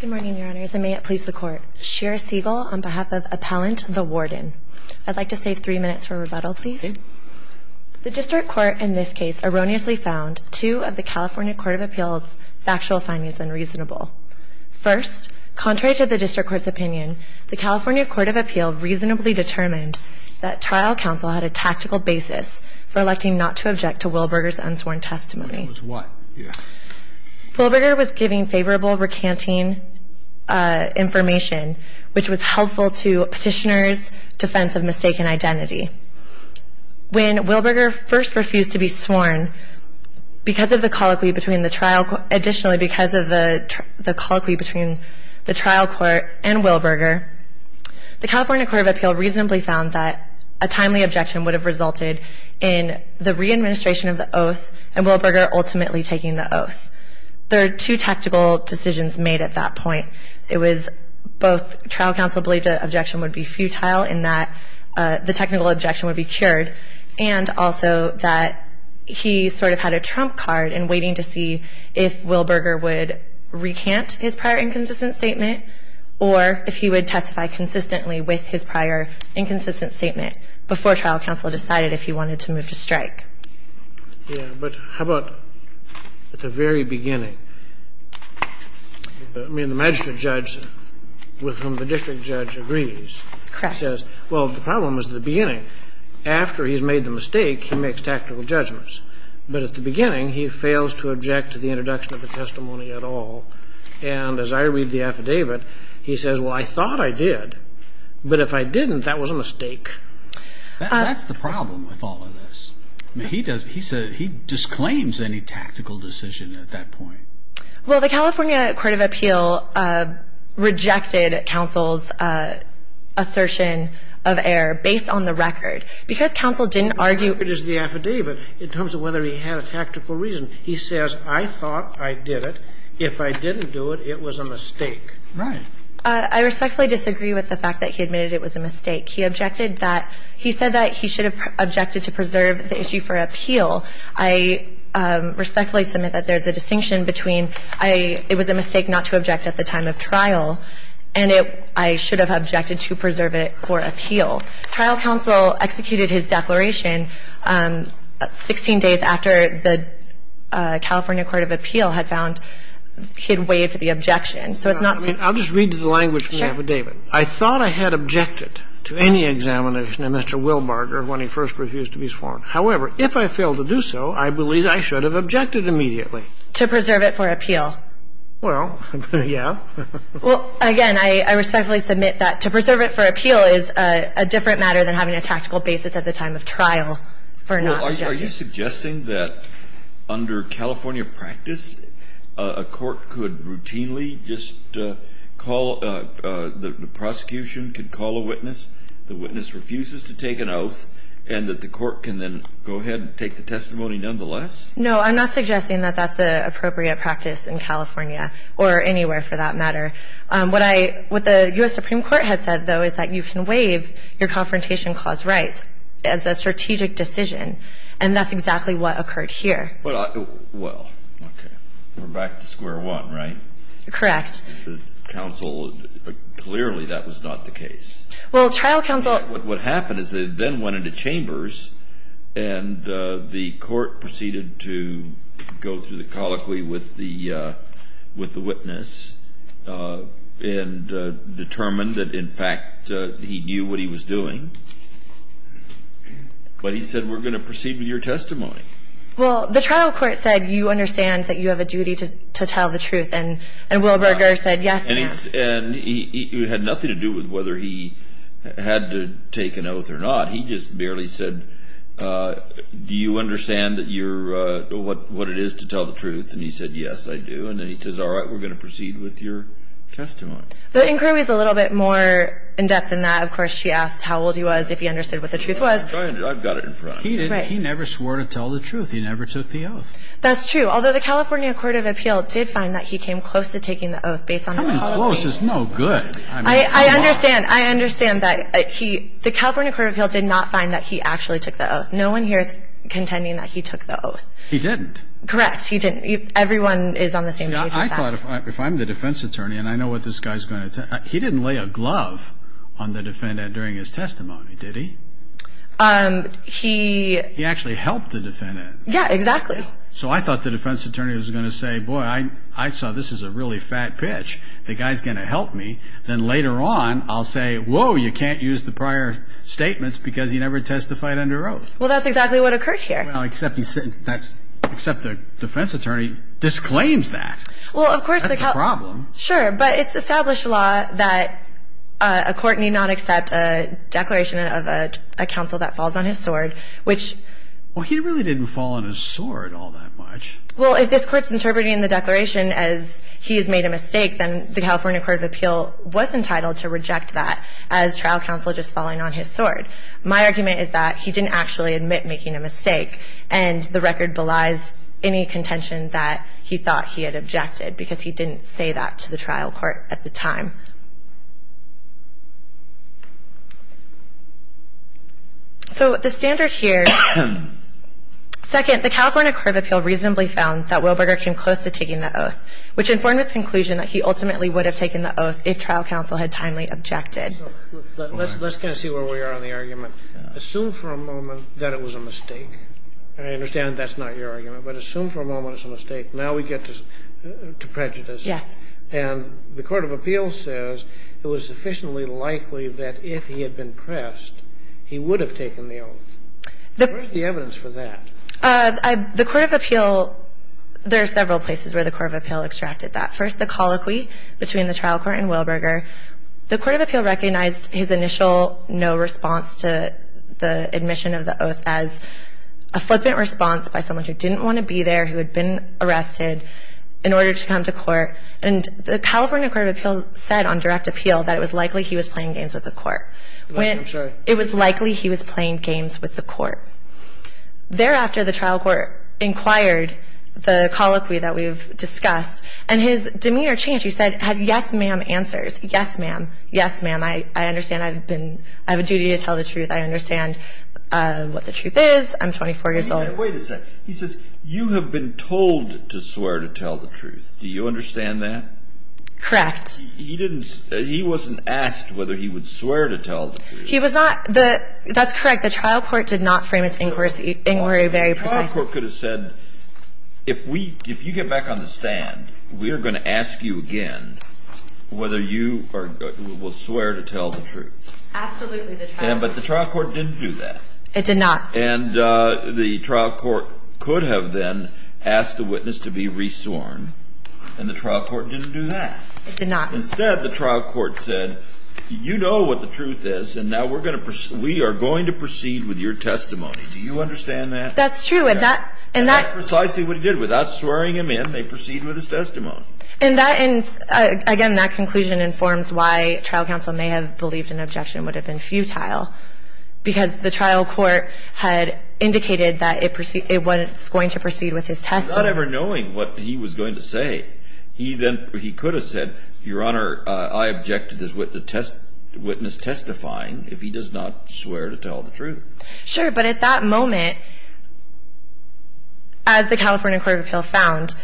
Good morning, Your Honors, and may it please the Court. Shira Siegel on behalf of Appellant, the Warden. I'd like to save three minutes for rebuttal, please. The District Court in this case erroneously found two of the California Court of Appeal's factual findings unreasonable. First, contrary to the District Court's opinion, the California Court of Appeal reasonably determined that trial counsel had a tactical basis for electing not to object to Wilberger's unsworn testimony. Wilberger was giving favorable recanting information, which was helpful to Petitioner's defense of mistaken identity. When Wilberger first refused to be sworn, additionally because of the colloquy between the trial court and Wilberger, the California Court of Appeal reasonably found that a timely objection would have resulted in the re-administration of the oath and Wilberger ultimately taking the oath. There are two tactical decisions made at that point. It was both trial counsel believed that objection would be futile and that the technical objection would be cured and also that he sort of had a trump card in waiting to see if Wilberger would recant his prior inconsistent statement or if he would testify consistently with his prior inconsistent statement before trial counsel decided if he wanted to move to strike. Yeah, but how about at the very beginning? I mean, the magistrate judge with whom the district judge agrees says, well, the problem is the beginning. After he's made the mistake, he makes tactical judgments. But at the beginning, he fails to object to the introduction of the testimony at all. And as I read the affidavit, he says, well, I thought I did, but if I didn't, that was a mistake. That's the problem with all of this. I mean, he does he says he disclaims any tactical decision at that point. Well, the California Court of Appeal rejected counsel's assertion of error based on the record because counsel didn't argue. It is the affidavit in terms of whether he had a tactical reason. He says, I thought I did it. If I didn't do it, it was a mistake. Right. I respectfully disagree with the fact that he admitted it was a mistake. He objected that he said that he should have objected to preserve the issue for appeal. I respectfully submit that there's a distinction between it was a mistake not to object at the time of trial and I should have objected to preserve it for appeal. Trial counsel executed his declaration 16 days after the California Court of Appeal had found he had waived the objection. So it's not the same. I'll just read the language from the affidavit. Sure. I thought I had objected to any examination of Mr. Wilbarger when he first refused to be sworn. However, if I failed to do so, I believe I should have objected immediately. To preserve it for appeal. Well, yeah. Well, again, I respectfully submit that to preserve it for appeal is a different matter than having a tactical basis at the time of trial for not objecting. I'm just suggesting that under California practice, a court could routinely just call the prosecution, could call a witness. The witness refuses to take an oath and that the court can then go ahead and take the testimony nonetheless? No, I'm not suggesting that that's the appropriate practice in California or anywhere for that matter. What the U.S. Supreme Court has said, though, is that you can waive your Confrontation Clause rights as a strategic decision. And that's exactly what occurred here. Well, okay. We're back to square one, right? Correct. The counsel, clearly that was not the case. Well, trial counsel What happened is they then went into chambers and the court proceeded to go through the colloquy with the witness and determined that, in fact, he knew what he was doing, but he said, we're going to proceed with your testimony. Well, the trial court said, you understand that you have a duty to tell the truth and Wilberger said, yes, I do. And he had nothing to do with whether he had to take an oath or not. He just barely said, do you understand what it is to tell the truth? And he said, yes, I do. And then he says, all right, we're going to proceed with your testimony. The inquiry is a little bit more in-depth than that. Of course, she asked how old he was, if he understood what the truth was. I've got it in front of me. He never swore to tell the truth. He never took the oath. That's true. Although the California Court of Appeal did find that he came close to taking the oath based on the colloquy. Coming close is no good. I understand. I understand that. The California Court of Appeal did not find that he actually took the oath. No one here is contending that he took the oath. He didn't. Correct. He didn't. Everyone is on the same page with that. See, I thought if I'm the defense attorney, and I know what this guy is going to say, he didn't lay a glove on the defendant during his testimony, did he? He... He actually helped the defendant. Yeah, exactly. So I thought the defense attorney was going to say, boy, I saw this is a really fat pitch. The guy is going to help me. Then later on, I'll say, whoa, you can't use the prior statements because he never testified under oath. Well, that's exactly what occurred here. Well, except the defense attorney disclaims that. Well, of course... That's the problem. Sure, but it's established law that a court need not accept a declaration of a counsel that falls on his sword, which... Well, he really didn't fall on his sword all that much. Well, if this court is interpreting the declaration as he has made a mistake, then the California Court of Appeal was entitled to reject that as trial counsel just falling on his sword. My argument is that he didn't actually admit making a mistake, and the record belies any contention that he thought he had objected because he didn't say that to the trial court at the time. So the standard here... Second, the California Court of Appeal reasonably found that Wilberger came close to taking the oath, which informed its conclusion that he ultimately would have taken the oath if trial counsel had timely objected. Let's kind of see where we are on the argument. Assume for a moment that it was a mistake. I understand that's not your argument, but assume for a moment it's a mistake. Now we get to prejudice. Yes. And the Court of Appeal says it was sufficiently likely that if he had been pressed, he would have taken the oath. Where's the evidence for that? The Court of Appeal, there are several places where the Court of Appeal extracted that. First, the colloquy between the trial court and Wilberger. The Court of Appeal recognized his initial no response to the admission of the oath as a flippant response by someone who didn't want to be there, who had been arrested, in order to come to court. And the California Court of Appeal said on direct appeal that it was likely he was playing games with the court. I'm sorry. It was likely he was playing games with the court. Thereafter, the trial court inquired the colloquy that we've discussed, and his demeanor changed. He said, yes, ma'am, answers. Yes, ma'am. Yes, ma'am. I understand. I have a duty to tell the truth. I understand what the truth is. I'm 24 years old. Wait a second. He says you have been told to swear to tell the truth. Do you understand that? Correct. He wasn't asked whether he would swear to tell the truth. He was not. That's correct. The trial court did not frame its inquiry very precisely. The trial court could have said, if you get back on the stand, we are going to ask you again whether you will swear to tell the truth. Absolutely. But the trial court didn't do that. It did not. And the trial court could have then asked the witness to be re-sworn, and the trial court didn't do that. It did not. Instead, the trial court said, you know what the truth is, and we are going to proceed with your testimony. Do you understand that? That's true. And that's precisely what he did. Without swearing him in, they proceed with his testimony. And, again, that conclusion informs why trial counsel may have believed an objection would have been futile, because the trial court had indicated that it was going to proceed with his testimony. Not ever knowing what he was going to say, he could have said, Your Honor, I object to this witness testifying if he does not swear to tell the truth. Sure. But at that moment, as the California Court of Appeal found,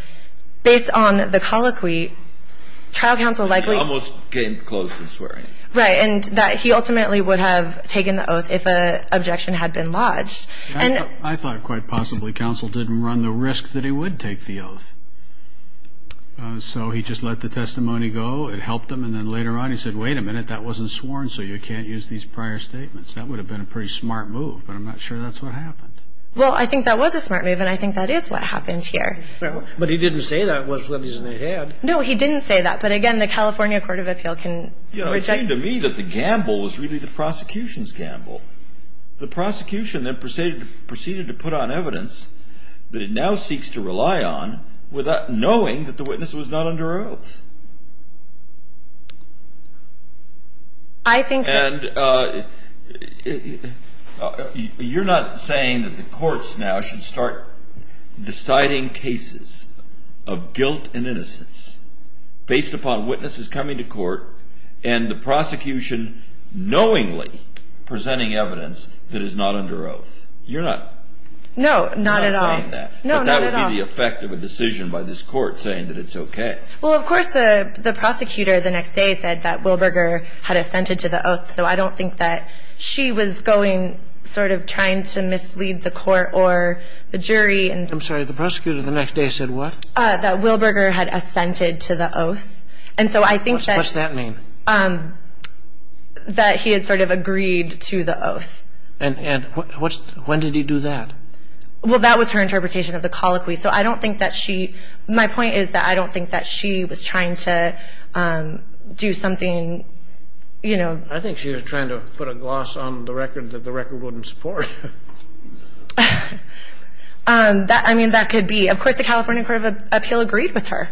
based on the colloquy, trial counsel likely almost came close to swearing. Right. And that he ultimately would have taken the oath if an objection had been lodged. I thought quite possibly counsel didn't run the risk that he would take the oath. So he just let the testimony go. It helped him. And then later on he said, Wait a minute, that wasn't sworn, so you can't use these prior statements. That would have been a pretty smart move, but I'm not sure that's what happened. Well, I think that was a smart move, and I think that is what happened here. But he didn't say that was what he said he had. No, he didn't say that. But, again, the California Court of Appeal can reject. It seemed to me that the gamble was really the prosecution's gamble. The prosecution then proceeded to put on evidence that it now seeks to rely on, knowing that the witness was not under oath. And you're not saying that the courts now should start deciding cases of guilt and innocence based upon witnesses coming to court and the prosecution knowingly presenting evidence that is not under oath. You're not saying that. No, not at all. But that would be the effect of a decision by this court saying that it's okay. Well, of course, the prosecutor the next day said that Wilberger had assented to the oath, so I don't think that she was going sort of trying to mislead the court or the jury. I'm sorry, the prosecutor the next day said what? That Wilberger had assented to the oath. And so I think that he had sort of agreed to the oath. And when did he do that? Well, that was her interpretation of the colloquy. So I don't think that she my point is that I don't think that she was trying to do something, you know. I think she was trying to put a gloss on the record that the record wouldn't support. I mean, that could be. Of course, the California Court of Appeal agreed with her.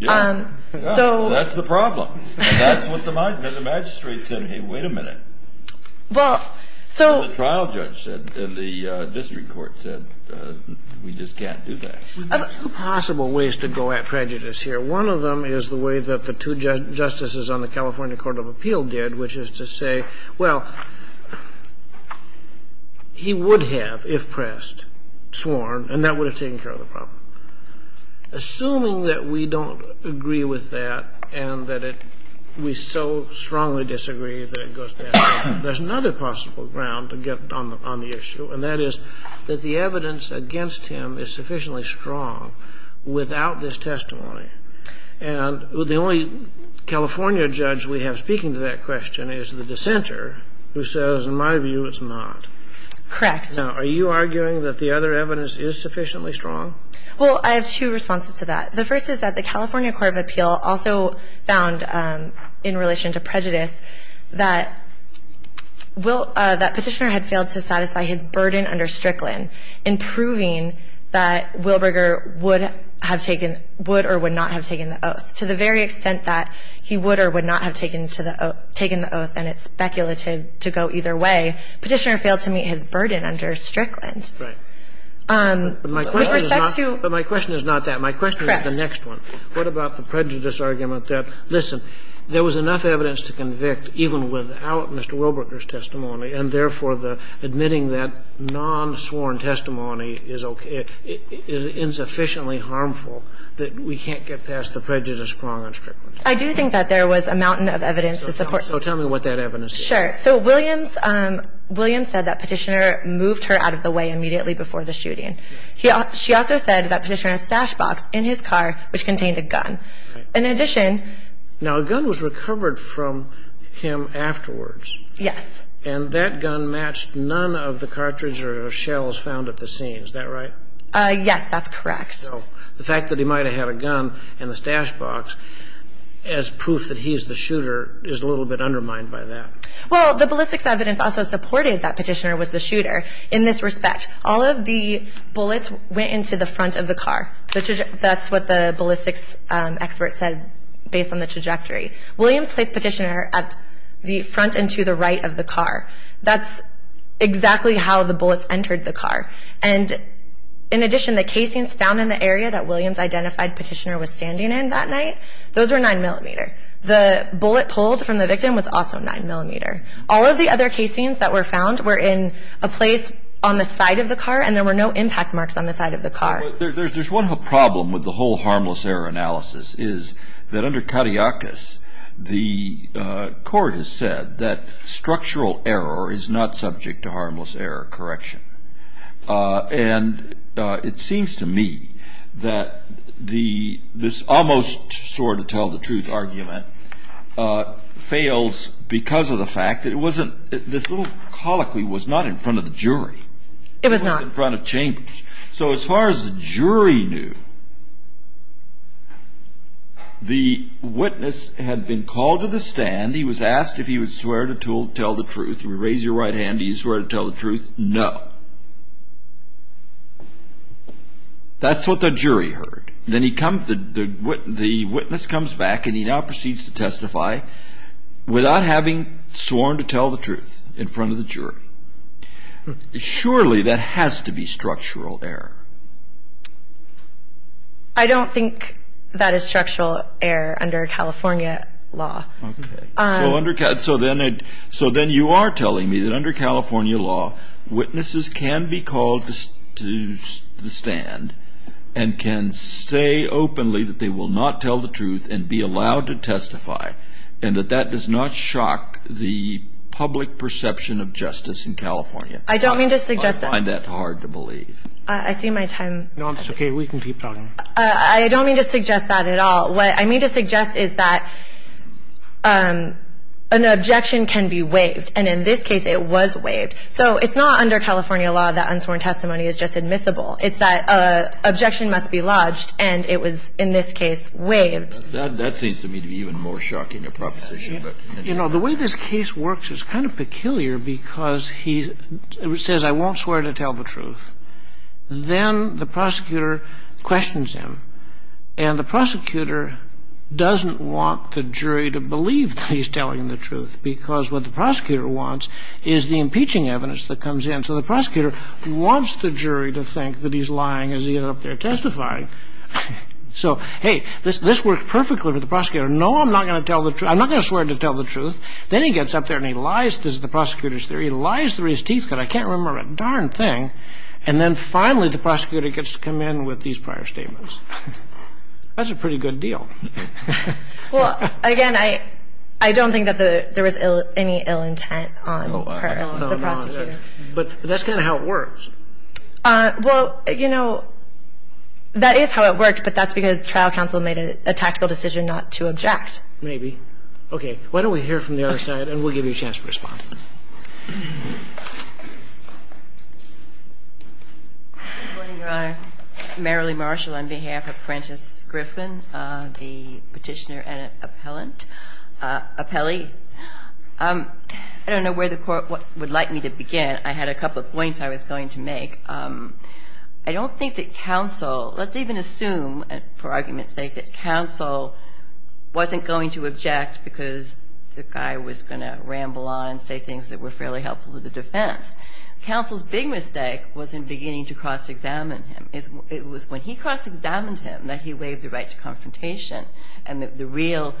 That's the problem. That's what the magistrate said, hey, wait a minute. The trial judge said, the district court said, we just can't do that. There are two possible ways to go at prejudice here. One of them is the way that the two justices on the California Court of Appeal did, which is to say, well, he would have, if pressed, sworn, and that would have taken care of the problem. Assuming that we don't agree with that and that we so strongly disagree that it goes without this testimony, there's another possible ground to get on the issue, and that is that the evidence against him is sufficiently strong without this testimony. And the only California judge we have speaking to that question is the dissenter, who says, in my view, it's not. Correct. Now, are you arguing that the other evidence is sufficiently strong? Well, I have two responses to that. The first is that the California Court of Appeal also found, in relation to prejudice, that Will – that Petitioner had failed to satisfy his burden under Strickland in proving that Wilberger would have taken – would or would not have taken the oath. To the very extent that he would or would not have taken the oath and it's speculative to go either way, Petitioner failed to meet his burden under Strickland. Right. With respect to – But my question is not – but my question is not that. My question is the next one. Correct. What about the prejudice argument that, listen, there was enough evidence to convict even without Mr. Wilberger's testimony and, therefore, the admitting that non-sworn testimony is okay – is insufficiently harmful that we can't get past the prejudice prong on Strickland? I do think that there was a mountain of evidence to support that. So tell me what that evidence is. Sure. So Williams – Williams said that Petitioner moved her out of the way immediately before the shooting. She also said that Petitioner had a stash box in his car which contained a gun. Right. In addition – Now, a gun was recovered from him afterwards. Yes. And that gun matched none of the cartridge or shells found at the scene. Is that right? Yes. That's correct. So the fact that he might have had a gun in the stash box as proof that he is the shooter is a little bit undermined by that. Well, the ballistics evidence also supported that Petitioner was the shooter. In this respect, all of the bullets went into the front of the car. That's what the ballistics expert said based on the trajectory. Williams placed Petitioner at the front and to the right of the car. That's exactly how the bullets entered the car. And in addition, the casings found in the area that Williams identified Petitioner was standing in that night, those were 9mm. The bullet pulled from the victim was also 9mm. All of the other casings that were found were in a place on the side of the car and there were no impact marks on the side of the car. There's one problem with the whole harmless error analysis is that under Katiakis, the court has said that structural error is not subject to harmless error correction. And it seems to me that this almost sort of tell-the-truth argument fails because of the fact that this little colloquy was not in front of the jury. It was not. It was not in front of chambers. So as far as the jury knew, the witness had been called to the stand. He was asked if he would swear to tell the truth. Raise your right hand. Do you swear to tell the truth? No. That's what the jury heard. Then the witness comes back and he now proceeds to testify without having sworn to tell the truth in front of the jury. Surely that has to be structural error. I don't think that is structural error under California law. Okay. So then you are telling me that under California law, witnesses can be called to the stand and can say openly that they will not tell the truth and be allowed to testify, and that that does not shock the public perception of justice in California? I don't mean to suggest that. I find that hard to believe. I see my time. No, it's okay. We can keep talking. I don't mean to suggest that at all. What I mean to suggest is that an objection can be waived, and in this case it was waived. So it's not under California law that unsworn testimony is just admissible. It's that an objection must be lodged, and it was in this case waived. That seems to me to be even more shocking a proposition. You know, the way this case works is kind of peculiar because he says, I won't swear to tell the truth. Then the prosecutor questions him, and the prosecutor doesn't want the jury to believe that he's telling the truth because what the prosecutor wants is the impeaching evidence that comes in. So the prosecutor wants the jury to think that he's lying as he got up there testifying. So, hey, this worked perfectly for the prosecutor. No, I'm not going to swear to tell the truth. Then he gets up there and he lies. This is the prosecutor's theory. He lies through his teeth because I can't remember a darn thing, and then finally the prosecutor gets to come in with these prior statements. That's a pretty good deal. Well, again, I don't think that there was any ill intent on the part of the prosecutor. No, no. But that's kind of how it works. Well, you know, that is how it worked, but that's because trial counsel made a tactical decision not to object. Maybe. Okay. Why don't we hear from the other side, and we'll give you a chance to respond. Good morning, Your Honor. Marilee Marshall on behalf of Prentiss Griffin, the Petitioner and Appellant Appellee. I don't know where the Court would like me to begin. I had a couple of points I was going to make. I don't think that counsel, let's even assume, for argument's sake, that counsel wasn't going to object because the guy was going to ramble on and say things that were fairly helpful to the defense. Counsel's big mistake wasn't beginning to cross-examine him. It was when he cross-examined him that he waived the right to confrontation and the real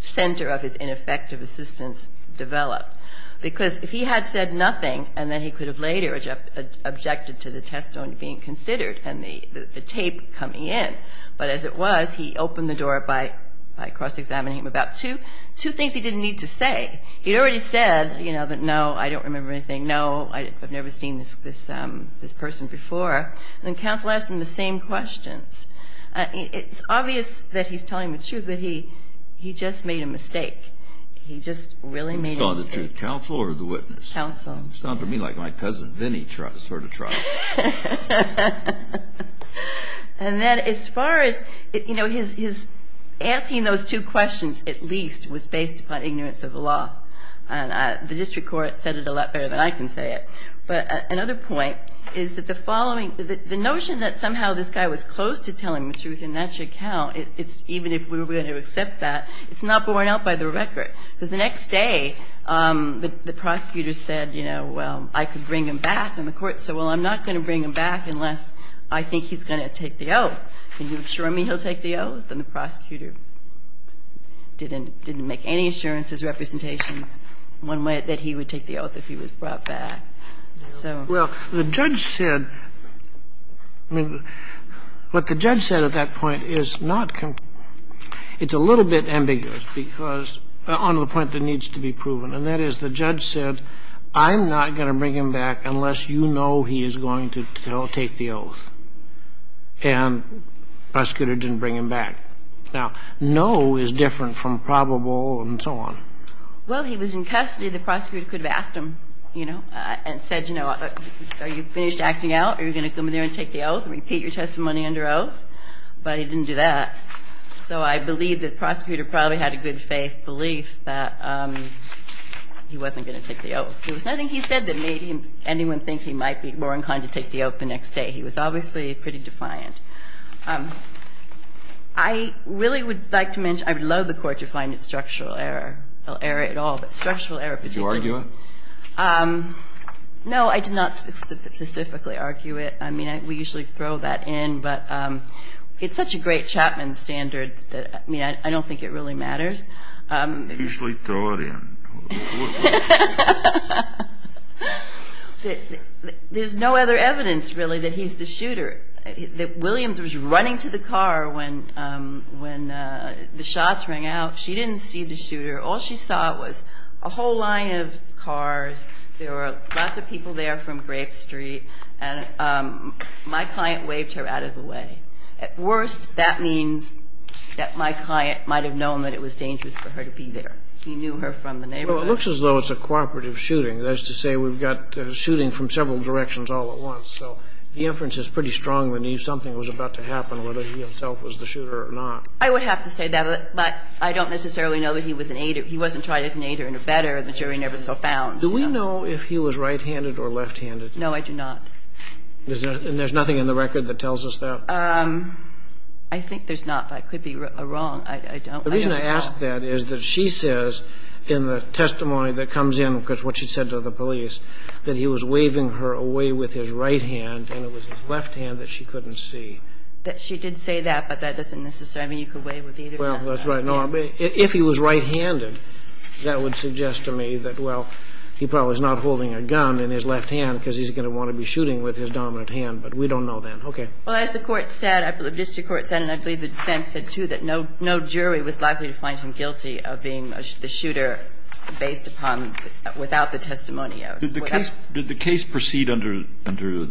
center of his ineffective assistance developed. Because if he had said nothing and then he could have later objected to the test only being considered and the tape coming in, but as it was, he opened the door by cross-examining him about two things he didn't need to say. He'd already said, you know, that no, I don't remember anything. No, I've never seen this person before. And then counsel asked him the same questions. It's obvious that he's telling the truth, that he just made a mistake. He just really made a mistake. He was telling the truth, counsel or the witness? Counsel. It sounds to me like my cousin Vinnie sort of tried. And then as far as, you know, his asking those two questions at least was based upon ignorance of the law. And the district court said it a lot better than I can say it. But another point is that the following the notion that somehow this guy was close to telling the truth and that should count, it's even if we were going to accept that, it's not borne out by the record. Because the next day, the prosecutor said, you know, well, I could bring him back and the court said, well, I'm not going to bring him back unless I think he's going to take the oath. Can you assure me he'll take the oath? And the prosecutor didn't make any assurances, representations, one way that he would take the oath if he was brought back. So. Well, the judge said, I mean, what the judge said at that point is not, it's a little bit ambiguous because, on the point that needs to be proven, and that is the judge said, I'm not going to bring him back unless you know he is going to take the oath. And the prosecutor didn't bring him back. Now, no is different from probable and so on. Well, he was in custody. The prosecutor could have asked him, you know, and said, you know, are you finished acting out? Are you going to come in there and take the oath and repeat your testimony under oath? But he didn't do that. So I believe the prosecutor probably had a good faith belief that he wasn't going to take the oath. There was nothing he said that made anyone think he might be more than kind to take the oath the next day. He was obviously pretty defiant. I really would like to mention, I would love the Court to find its structural error, well, error at all, but structural error particularly. Did you argue it? No, I did not specifically argue it. I mean, we usually throw that in. But it's such a great Chapman standard that, I mean, I don't think it really matters. You usually throw it in. There's no other evidence, really, that he's the shooter. Williams was running to the car when the shots rang out. She didn't see the shooter. All she saw was a whole line of cars. There were lots of people there from Grape Street. And my client waved her out of the way. At worst, that means that my client might have known that it was dangerous for her to be there. He knew her from the neighborhood. Well, it looks as though it's a cooperative shooting. That is to say, we've got shooting from several directions all at once. So the inference is pretty strong that something was about to happen, whether he himself was the shooter or not. I would have to say that. But I don't necessarily know that he was an aider. He wasn't tried as an aider and a better. The jury never saw found. Do we know if he was right-handed or left-handed? No, I do not. And there's nothing in the record that tells us that? I think there's not. But I could be wrong. I don't know. The reason I ask that is that she says in the testimony that comes in, because what she said to the police, that he was waving her away with his right hand and it was his left hand that she couldn't see. She did say that, but that doesn't necessarily mean you could wave with either hand. Well, that's right. If he was right-handed, that would suggest to me that, well, he probably is not holding a gun in his left hand because he's going to want to be shooting with his dominant hand. But we don't know that. Okay. Well, as the court said, the district court said, and I believe the defense said, too, that no jury was likely to find him guilty of being the shooter based upon, without the testimony. Did the case proceed under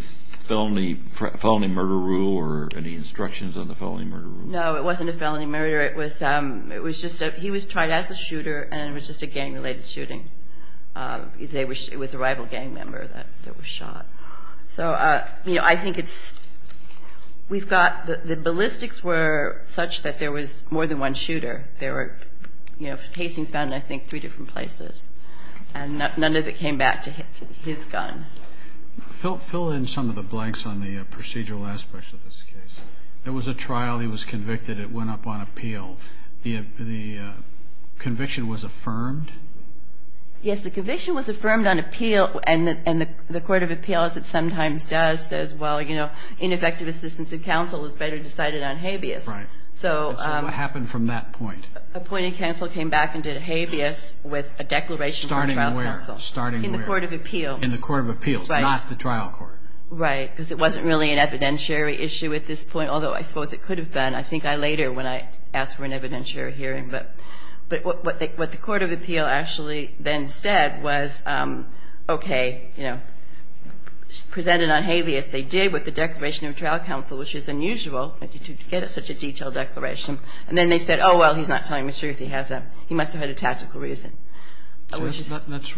felony murder rule or any instructions on the felony murder rule? No, it wasn't a felony murder. It was just that he was tried as a shooter and it was just a gang-related shooting. It was a rival gang member that was shot. So, you know, I think it's, we've got, the ballistics were such that there was more than one shooter. There were, you know, casings found in, I think, three different places. And none of it came back to his gun. Fill in some of the blanks on the procedural aspects of this case. There was a trial. He was convicted. It went up on appeal. The conviction was affirmed? Yes, the conviction was affirmed on appeal. And the court of appeals, it sometimes does, says, well, you know, ineffective assistance of counsel is better decided on habeas. Right. So. So what happened from that point? Appointed counsel came back and did habeas with a declaration from trial counsel. Starting where? Starting where? In the court of appeal. In the court of appeals. Right. Not the trial court. Right. Because it wasn't really an evidentiary issue at this point, although I suppose it could have been. I think I later, when I asked for an evidentiary hearing. But what the court of appeal actually then said was, okay, you know, presented on habeas. They did with the declaration of trial counsel, which is unusual. You get such a detailed declaration. And then they said, oh, well, he's not telling the truth. He must have had a tactical reason. That's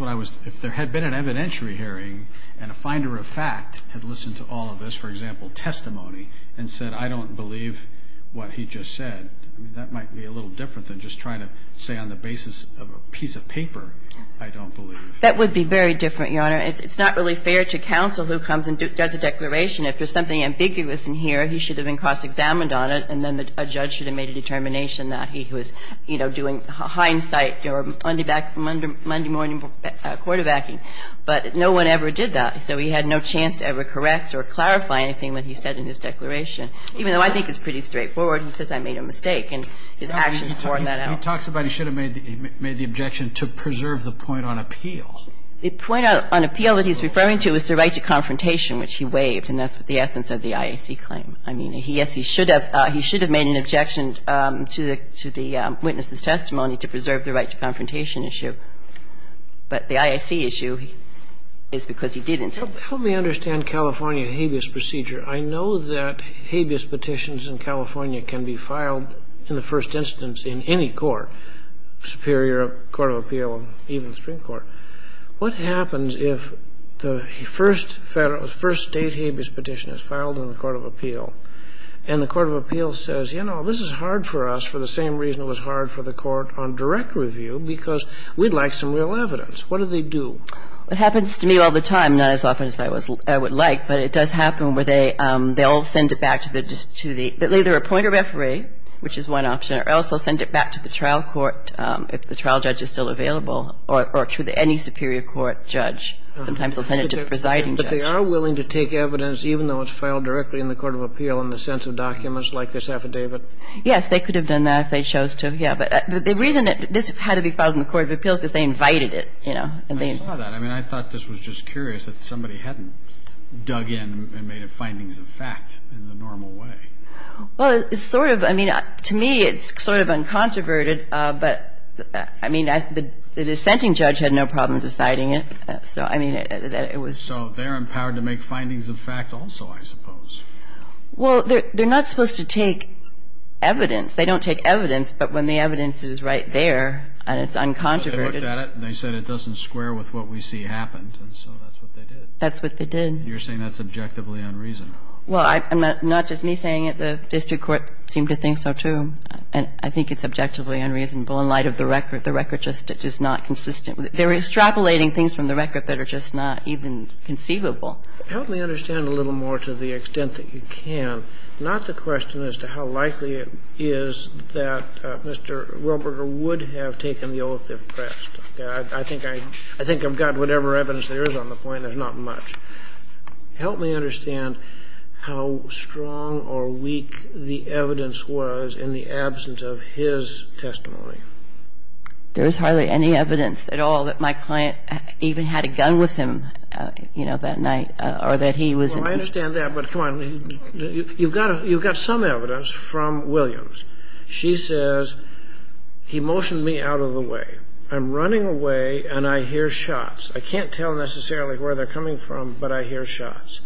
what I was, if there had been an evidentiary hearing and a finder of fact had listened to all of this, for example, testimony, and said, I don't believe what he just said. I mean, that might be a little different than just trying to say on the basis of a piece of paper, I don't believe. That would be very different, Your Honor. It's not really fair to counsel who comes and does a declaration. If there's something ambiguous in here, he should have been cross-examined on it, and then a judge should have made a determination that he was, you know, doing hindsight or Monday morning quarterbacking. But no one ever did that. So he had no chance to ever correct or clarify anything that he said in his declaration, even though I think it's pretty straightforward. He says I made a mistake. And his actions point that out. He talks about he should have made the objection to preserve the point on appeal. The point on appeal that he's referring to is the right to confrontation, which he waived. And that's the essence of the IAC claim. I mean, yes, he should have made an objection to the witness's testimony to preserve the right to confrontation issue. But the IAC issue is because he didn't. Help me understand California and habeas procedure. I know that habeas petitions in California can be filed in the first instance in any court, Superior Court of Appeal, even the Supreme Court. What happens if the first State habeas petition is filed in the Court of Appeal, and the Court of Appeal says, you know, this is hard for us for the same reason it was hard for the Court on direct review, because we'd like some real evidence. What do they do? It happens to me all the time, not as often as I would like, but it does happen where they all send it back to either a pointer referee, which is one option, or else they'll send it back to the trial court if the trial judge is still available or to any Superior Court judge. Sometimes they'll send it to the presiding judge. But they are willing to take evidence, even though it's filed directly in the Court of Appeal, in the sense of documents like this affidavit? Yes, they could have done that if they chose to, yeah. But the reason that this had to be filed in the Court of Appeal is because they invited it, you know. I saw that. I mean, I thought this was just curious that somebody hadn't dug in and made it findings of fact in the normal way. Well, it's sort of, I mean, to me it's sort of uncontroverted, but, I mean, the dissenting judge had no problem deciding it. So, I mean, it was. So they're empowered to make findings of fact also, I suppose. Well, they're not supposed to take evidence. They don't take evidence, but when the evidence is right there and it's uncontroverted. So they looked at it and they said it doesn't square with what we see happened. And so that's what they did. That's what they did. You're saying that's objectively unreasonable. Well, not just me saying it. The district court seemed to think so, too. And I think it's objectively unreasonable in light of the record. The record just is not consistent. They're extrapolating things from the record that are just not even conceivable. Help me understand a little more to the extent that you can, not the question as to how likely it is that Mr. Wilberger would have taken the oath if pressed. I think I've got whatever evidence there is on the point. There's not much. Help me understand how strong or weak the evidence was in the absence of his testimony. There is hardly any evidence at all that my client even had a gun with him, you know, that night, or that he was in the room. Well, I understand that. But come on. You've got some evidence from Williams. She says, he motioned me out of the way. I'm running away, and I hear shots. I can't tell necessarily where they're coming from, but I hear shots.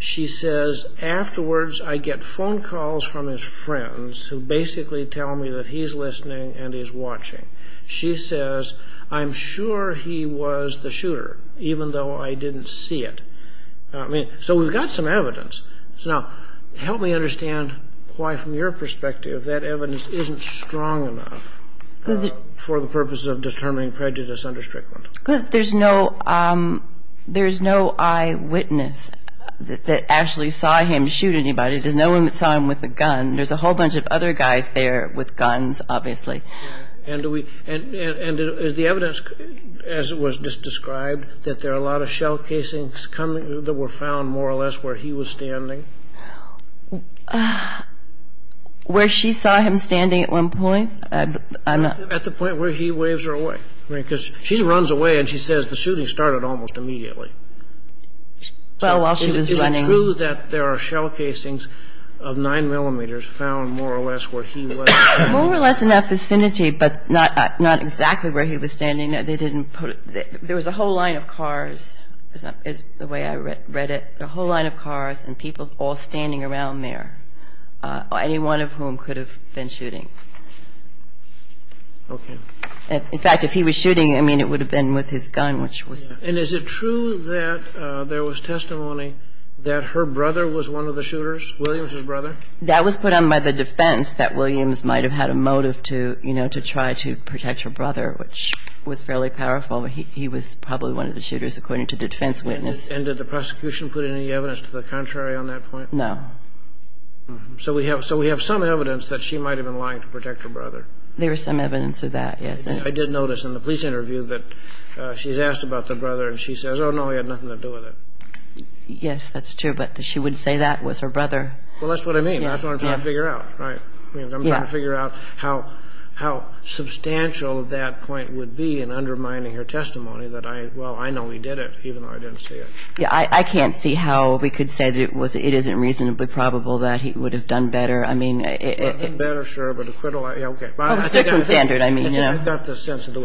She says, afterwards, I get phone calls from his friends, who basically tell me that he's listening and he's watching. She says, I'm sure he was the shooter, even though I didn't see it. So we've got some evidence. Now, help me understand why, from your perspective, that evidence isn't strong enough for the purposes of determining prejudice under Strickland. Because there's no eyewitness that actually saw him shoot anybody. There's no one that saw him with a gun. There's a whole bunch of other guys there with guns, obviously. And is the evidence, as was just described, that there are a lot of shell casings that were found, more or less, where he was standing? Where she saw him standing at one point? At the point where he waves her away. Because she runs away, and she says, the shooting started almost immediately. Well, while she was running. Is it true that there are shell casings of 9 millimeters found, more or less, where he was standing? More or less in that vicinity, but not exactly where he was standing. There was a whole line of cars, is the way I read it. A whole line of cars and people all standing around there. Any one of whom could have been shooting. Okay. In fact, if he was shooting, I mean, it would have been with his gun. And is it true that there was testimony that her brother was one of the shooters, Williams' brother? That was put on by the defense, that Williams might have had a motive to, you know, to try to protect her brother, which was fairly powerful. He was probably one of the shooters, according to the defense witness. And did the prosecution put any evidence to the contrary on that point? No. So we have some evidence that she might have been lying to protect her brother. There is some evidence of that, yes. I did notice in the police interview that she's asked about the brother, and she says, oh, no, he had nothing to do with it. Yes, that's true. But she wouldn't say that, it was her brother. Well, that's what I mean. That's what I'm trying to figure out, right? I'm trying to figure out how substantial that point would be in undermining her testimony that, well, I know he did it, even though I didn't see it. Yes, I can't see how we could say that it isn't reasonably probable that he would have done better. I mean, it was different standard, I mean, you know. I've got the sense of the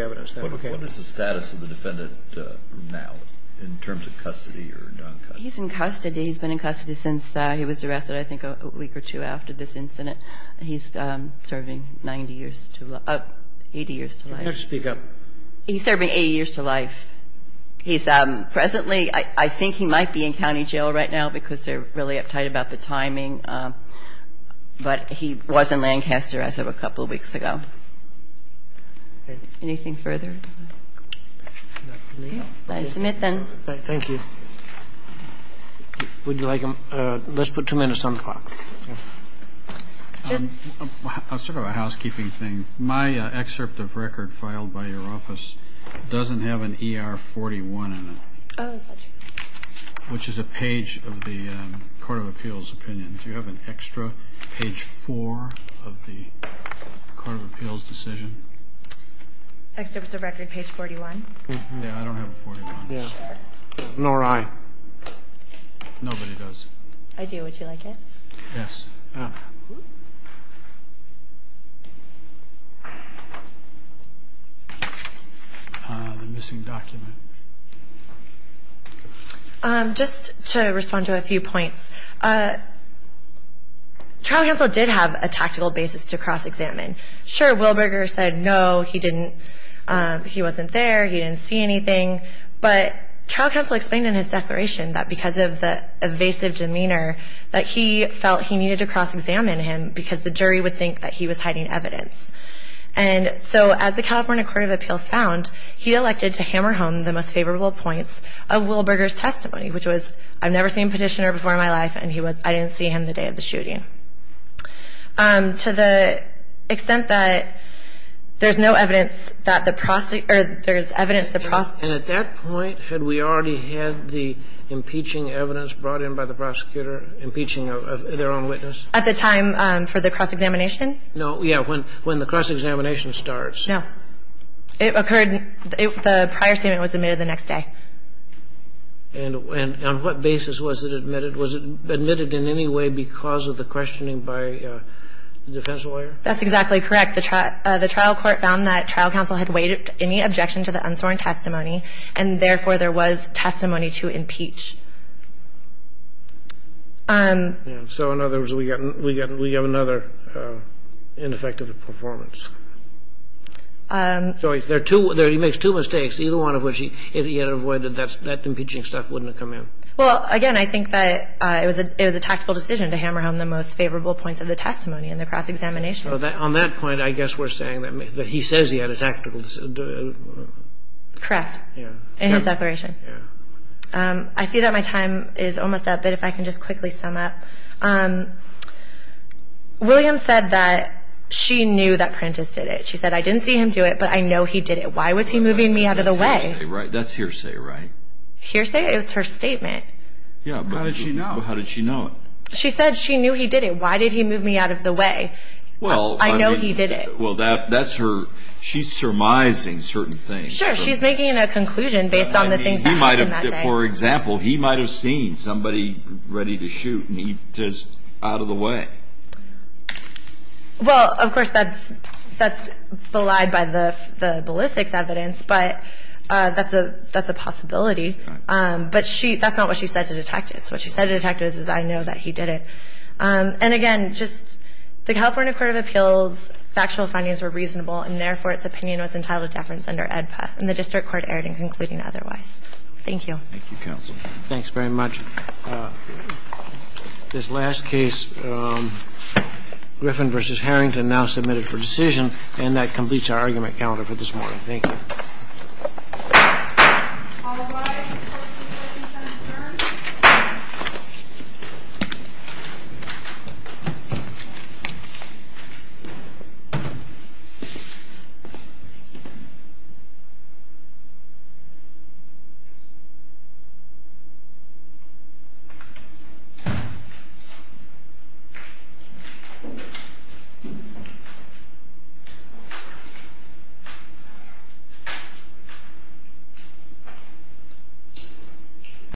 evidence. What is the status of the defendant now in terms of custody or non-custody? He's in custody. He's been in custody since he was arrested, I think, a week or two after this incident. He's serving 90 years to life – 80 years to life. You have to speak up. He's serving 80 years to life. He's presently – I think he might be in county jail right now because they're really uptight about the timing. But he was in Lancaster as of a couple of weeks ago. Anything further? No. May I submit, then? Thank you. Would you like – let's put two minutes on the clock. Sort of a housekeeping thing. My excerpt of record filed by your office doesn't have an ER-41 in it, which is a page of the court of appeals opinion. Do you have an extra page four of the court of appeals decision? Excerpt of record, page 41? Yeah, I don't have a 41. Yeah. Nor I. Nobody does. I do. Would you like it? Yes. The missing document. Just to respond to a few points, trial counsel did have a tactical basis to cross-examine. Sure, Wilberger said no, he didn't – he wasn't there, he didn't see anything. But trial counsel explained in his declaration that because of the evasive demeanor, that he felt he needed to cross-examine him because the jury would think that he was hiding evidence. And so as the California court of appeals found, he elected to hammer home the most favorable points of Wilberger's testimony, which was I've never seen a petitioner before in my life and I didn't see him the day of the shooting. To the extent that there's no evidence that the prosecutor – or there's evidence the prosecutor – And at that point, had we already had the impeaching evidence brought in by the prosecutor, impeaching of their own witness? At the time for the cross-examination? No. Yeah. When the cross-examination starts. No. It occurred – the prior statement was admitted the next day. And on what basis was it admitted? Was it admitted in any way because of the questioning by the defense lawyer? That's exactly correct. The trial court found that trial counsel had weighed any objection to the unsworn testimony and therefore there was testimony to impeach. So in other words, we have another ineffective performance. So there are two – he makes two mistakes, either one of which if he had avoided that impeaching stuff wouldn't have come in. Well, again, I think that it was a tactical decision to hammer home the most favorable points of the testimony in the cross-examination. On that point, I guess we're saying that he says he had a tactical – Correct. Yeah. In his declaration. Yeah. I see that my time is almost up, but if I can just quickly sum up. William said that she knew that Prentiss did it. She said, I didn't see him do it, but I know he did it. Why was he moving me out of the way? That's hearsay, right? Hearsay is her statement. Yeah, but how did she know it? She said she knew he did it. Why did he move me out of the way? Well, I mean – I know he did it. Well, that's her – she's surmising certain things. Sure. She's making a conclusion based on the things that happened that day. I mean, he might have – for example, he might have seen somebody ready to shoot and he says, out of the way. Well, of course, that's belied by the ballistics evidence, but that's a possibility. Right. But she – that's not what she said to detectives. What she said to detectives is, I know that he did it. And, again, just the California Court of Appeals factual findings were reasonable and, therefore, its opinion was entitled to deference under AEDPA. And the district court erred in concluding otherwise. Thank you. Thank you, counsel. Thanks very much. This last case, Griffin v. Harrington, now submitted for decision. And that completes our argument calendar for this morning. Thank you. All rise for the presentation of the jury. Thank you.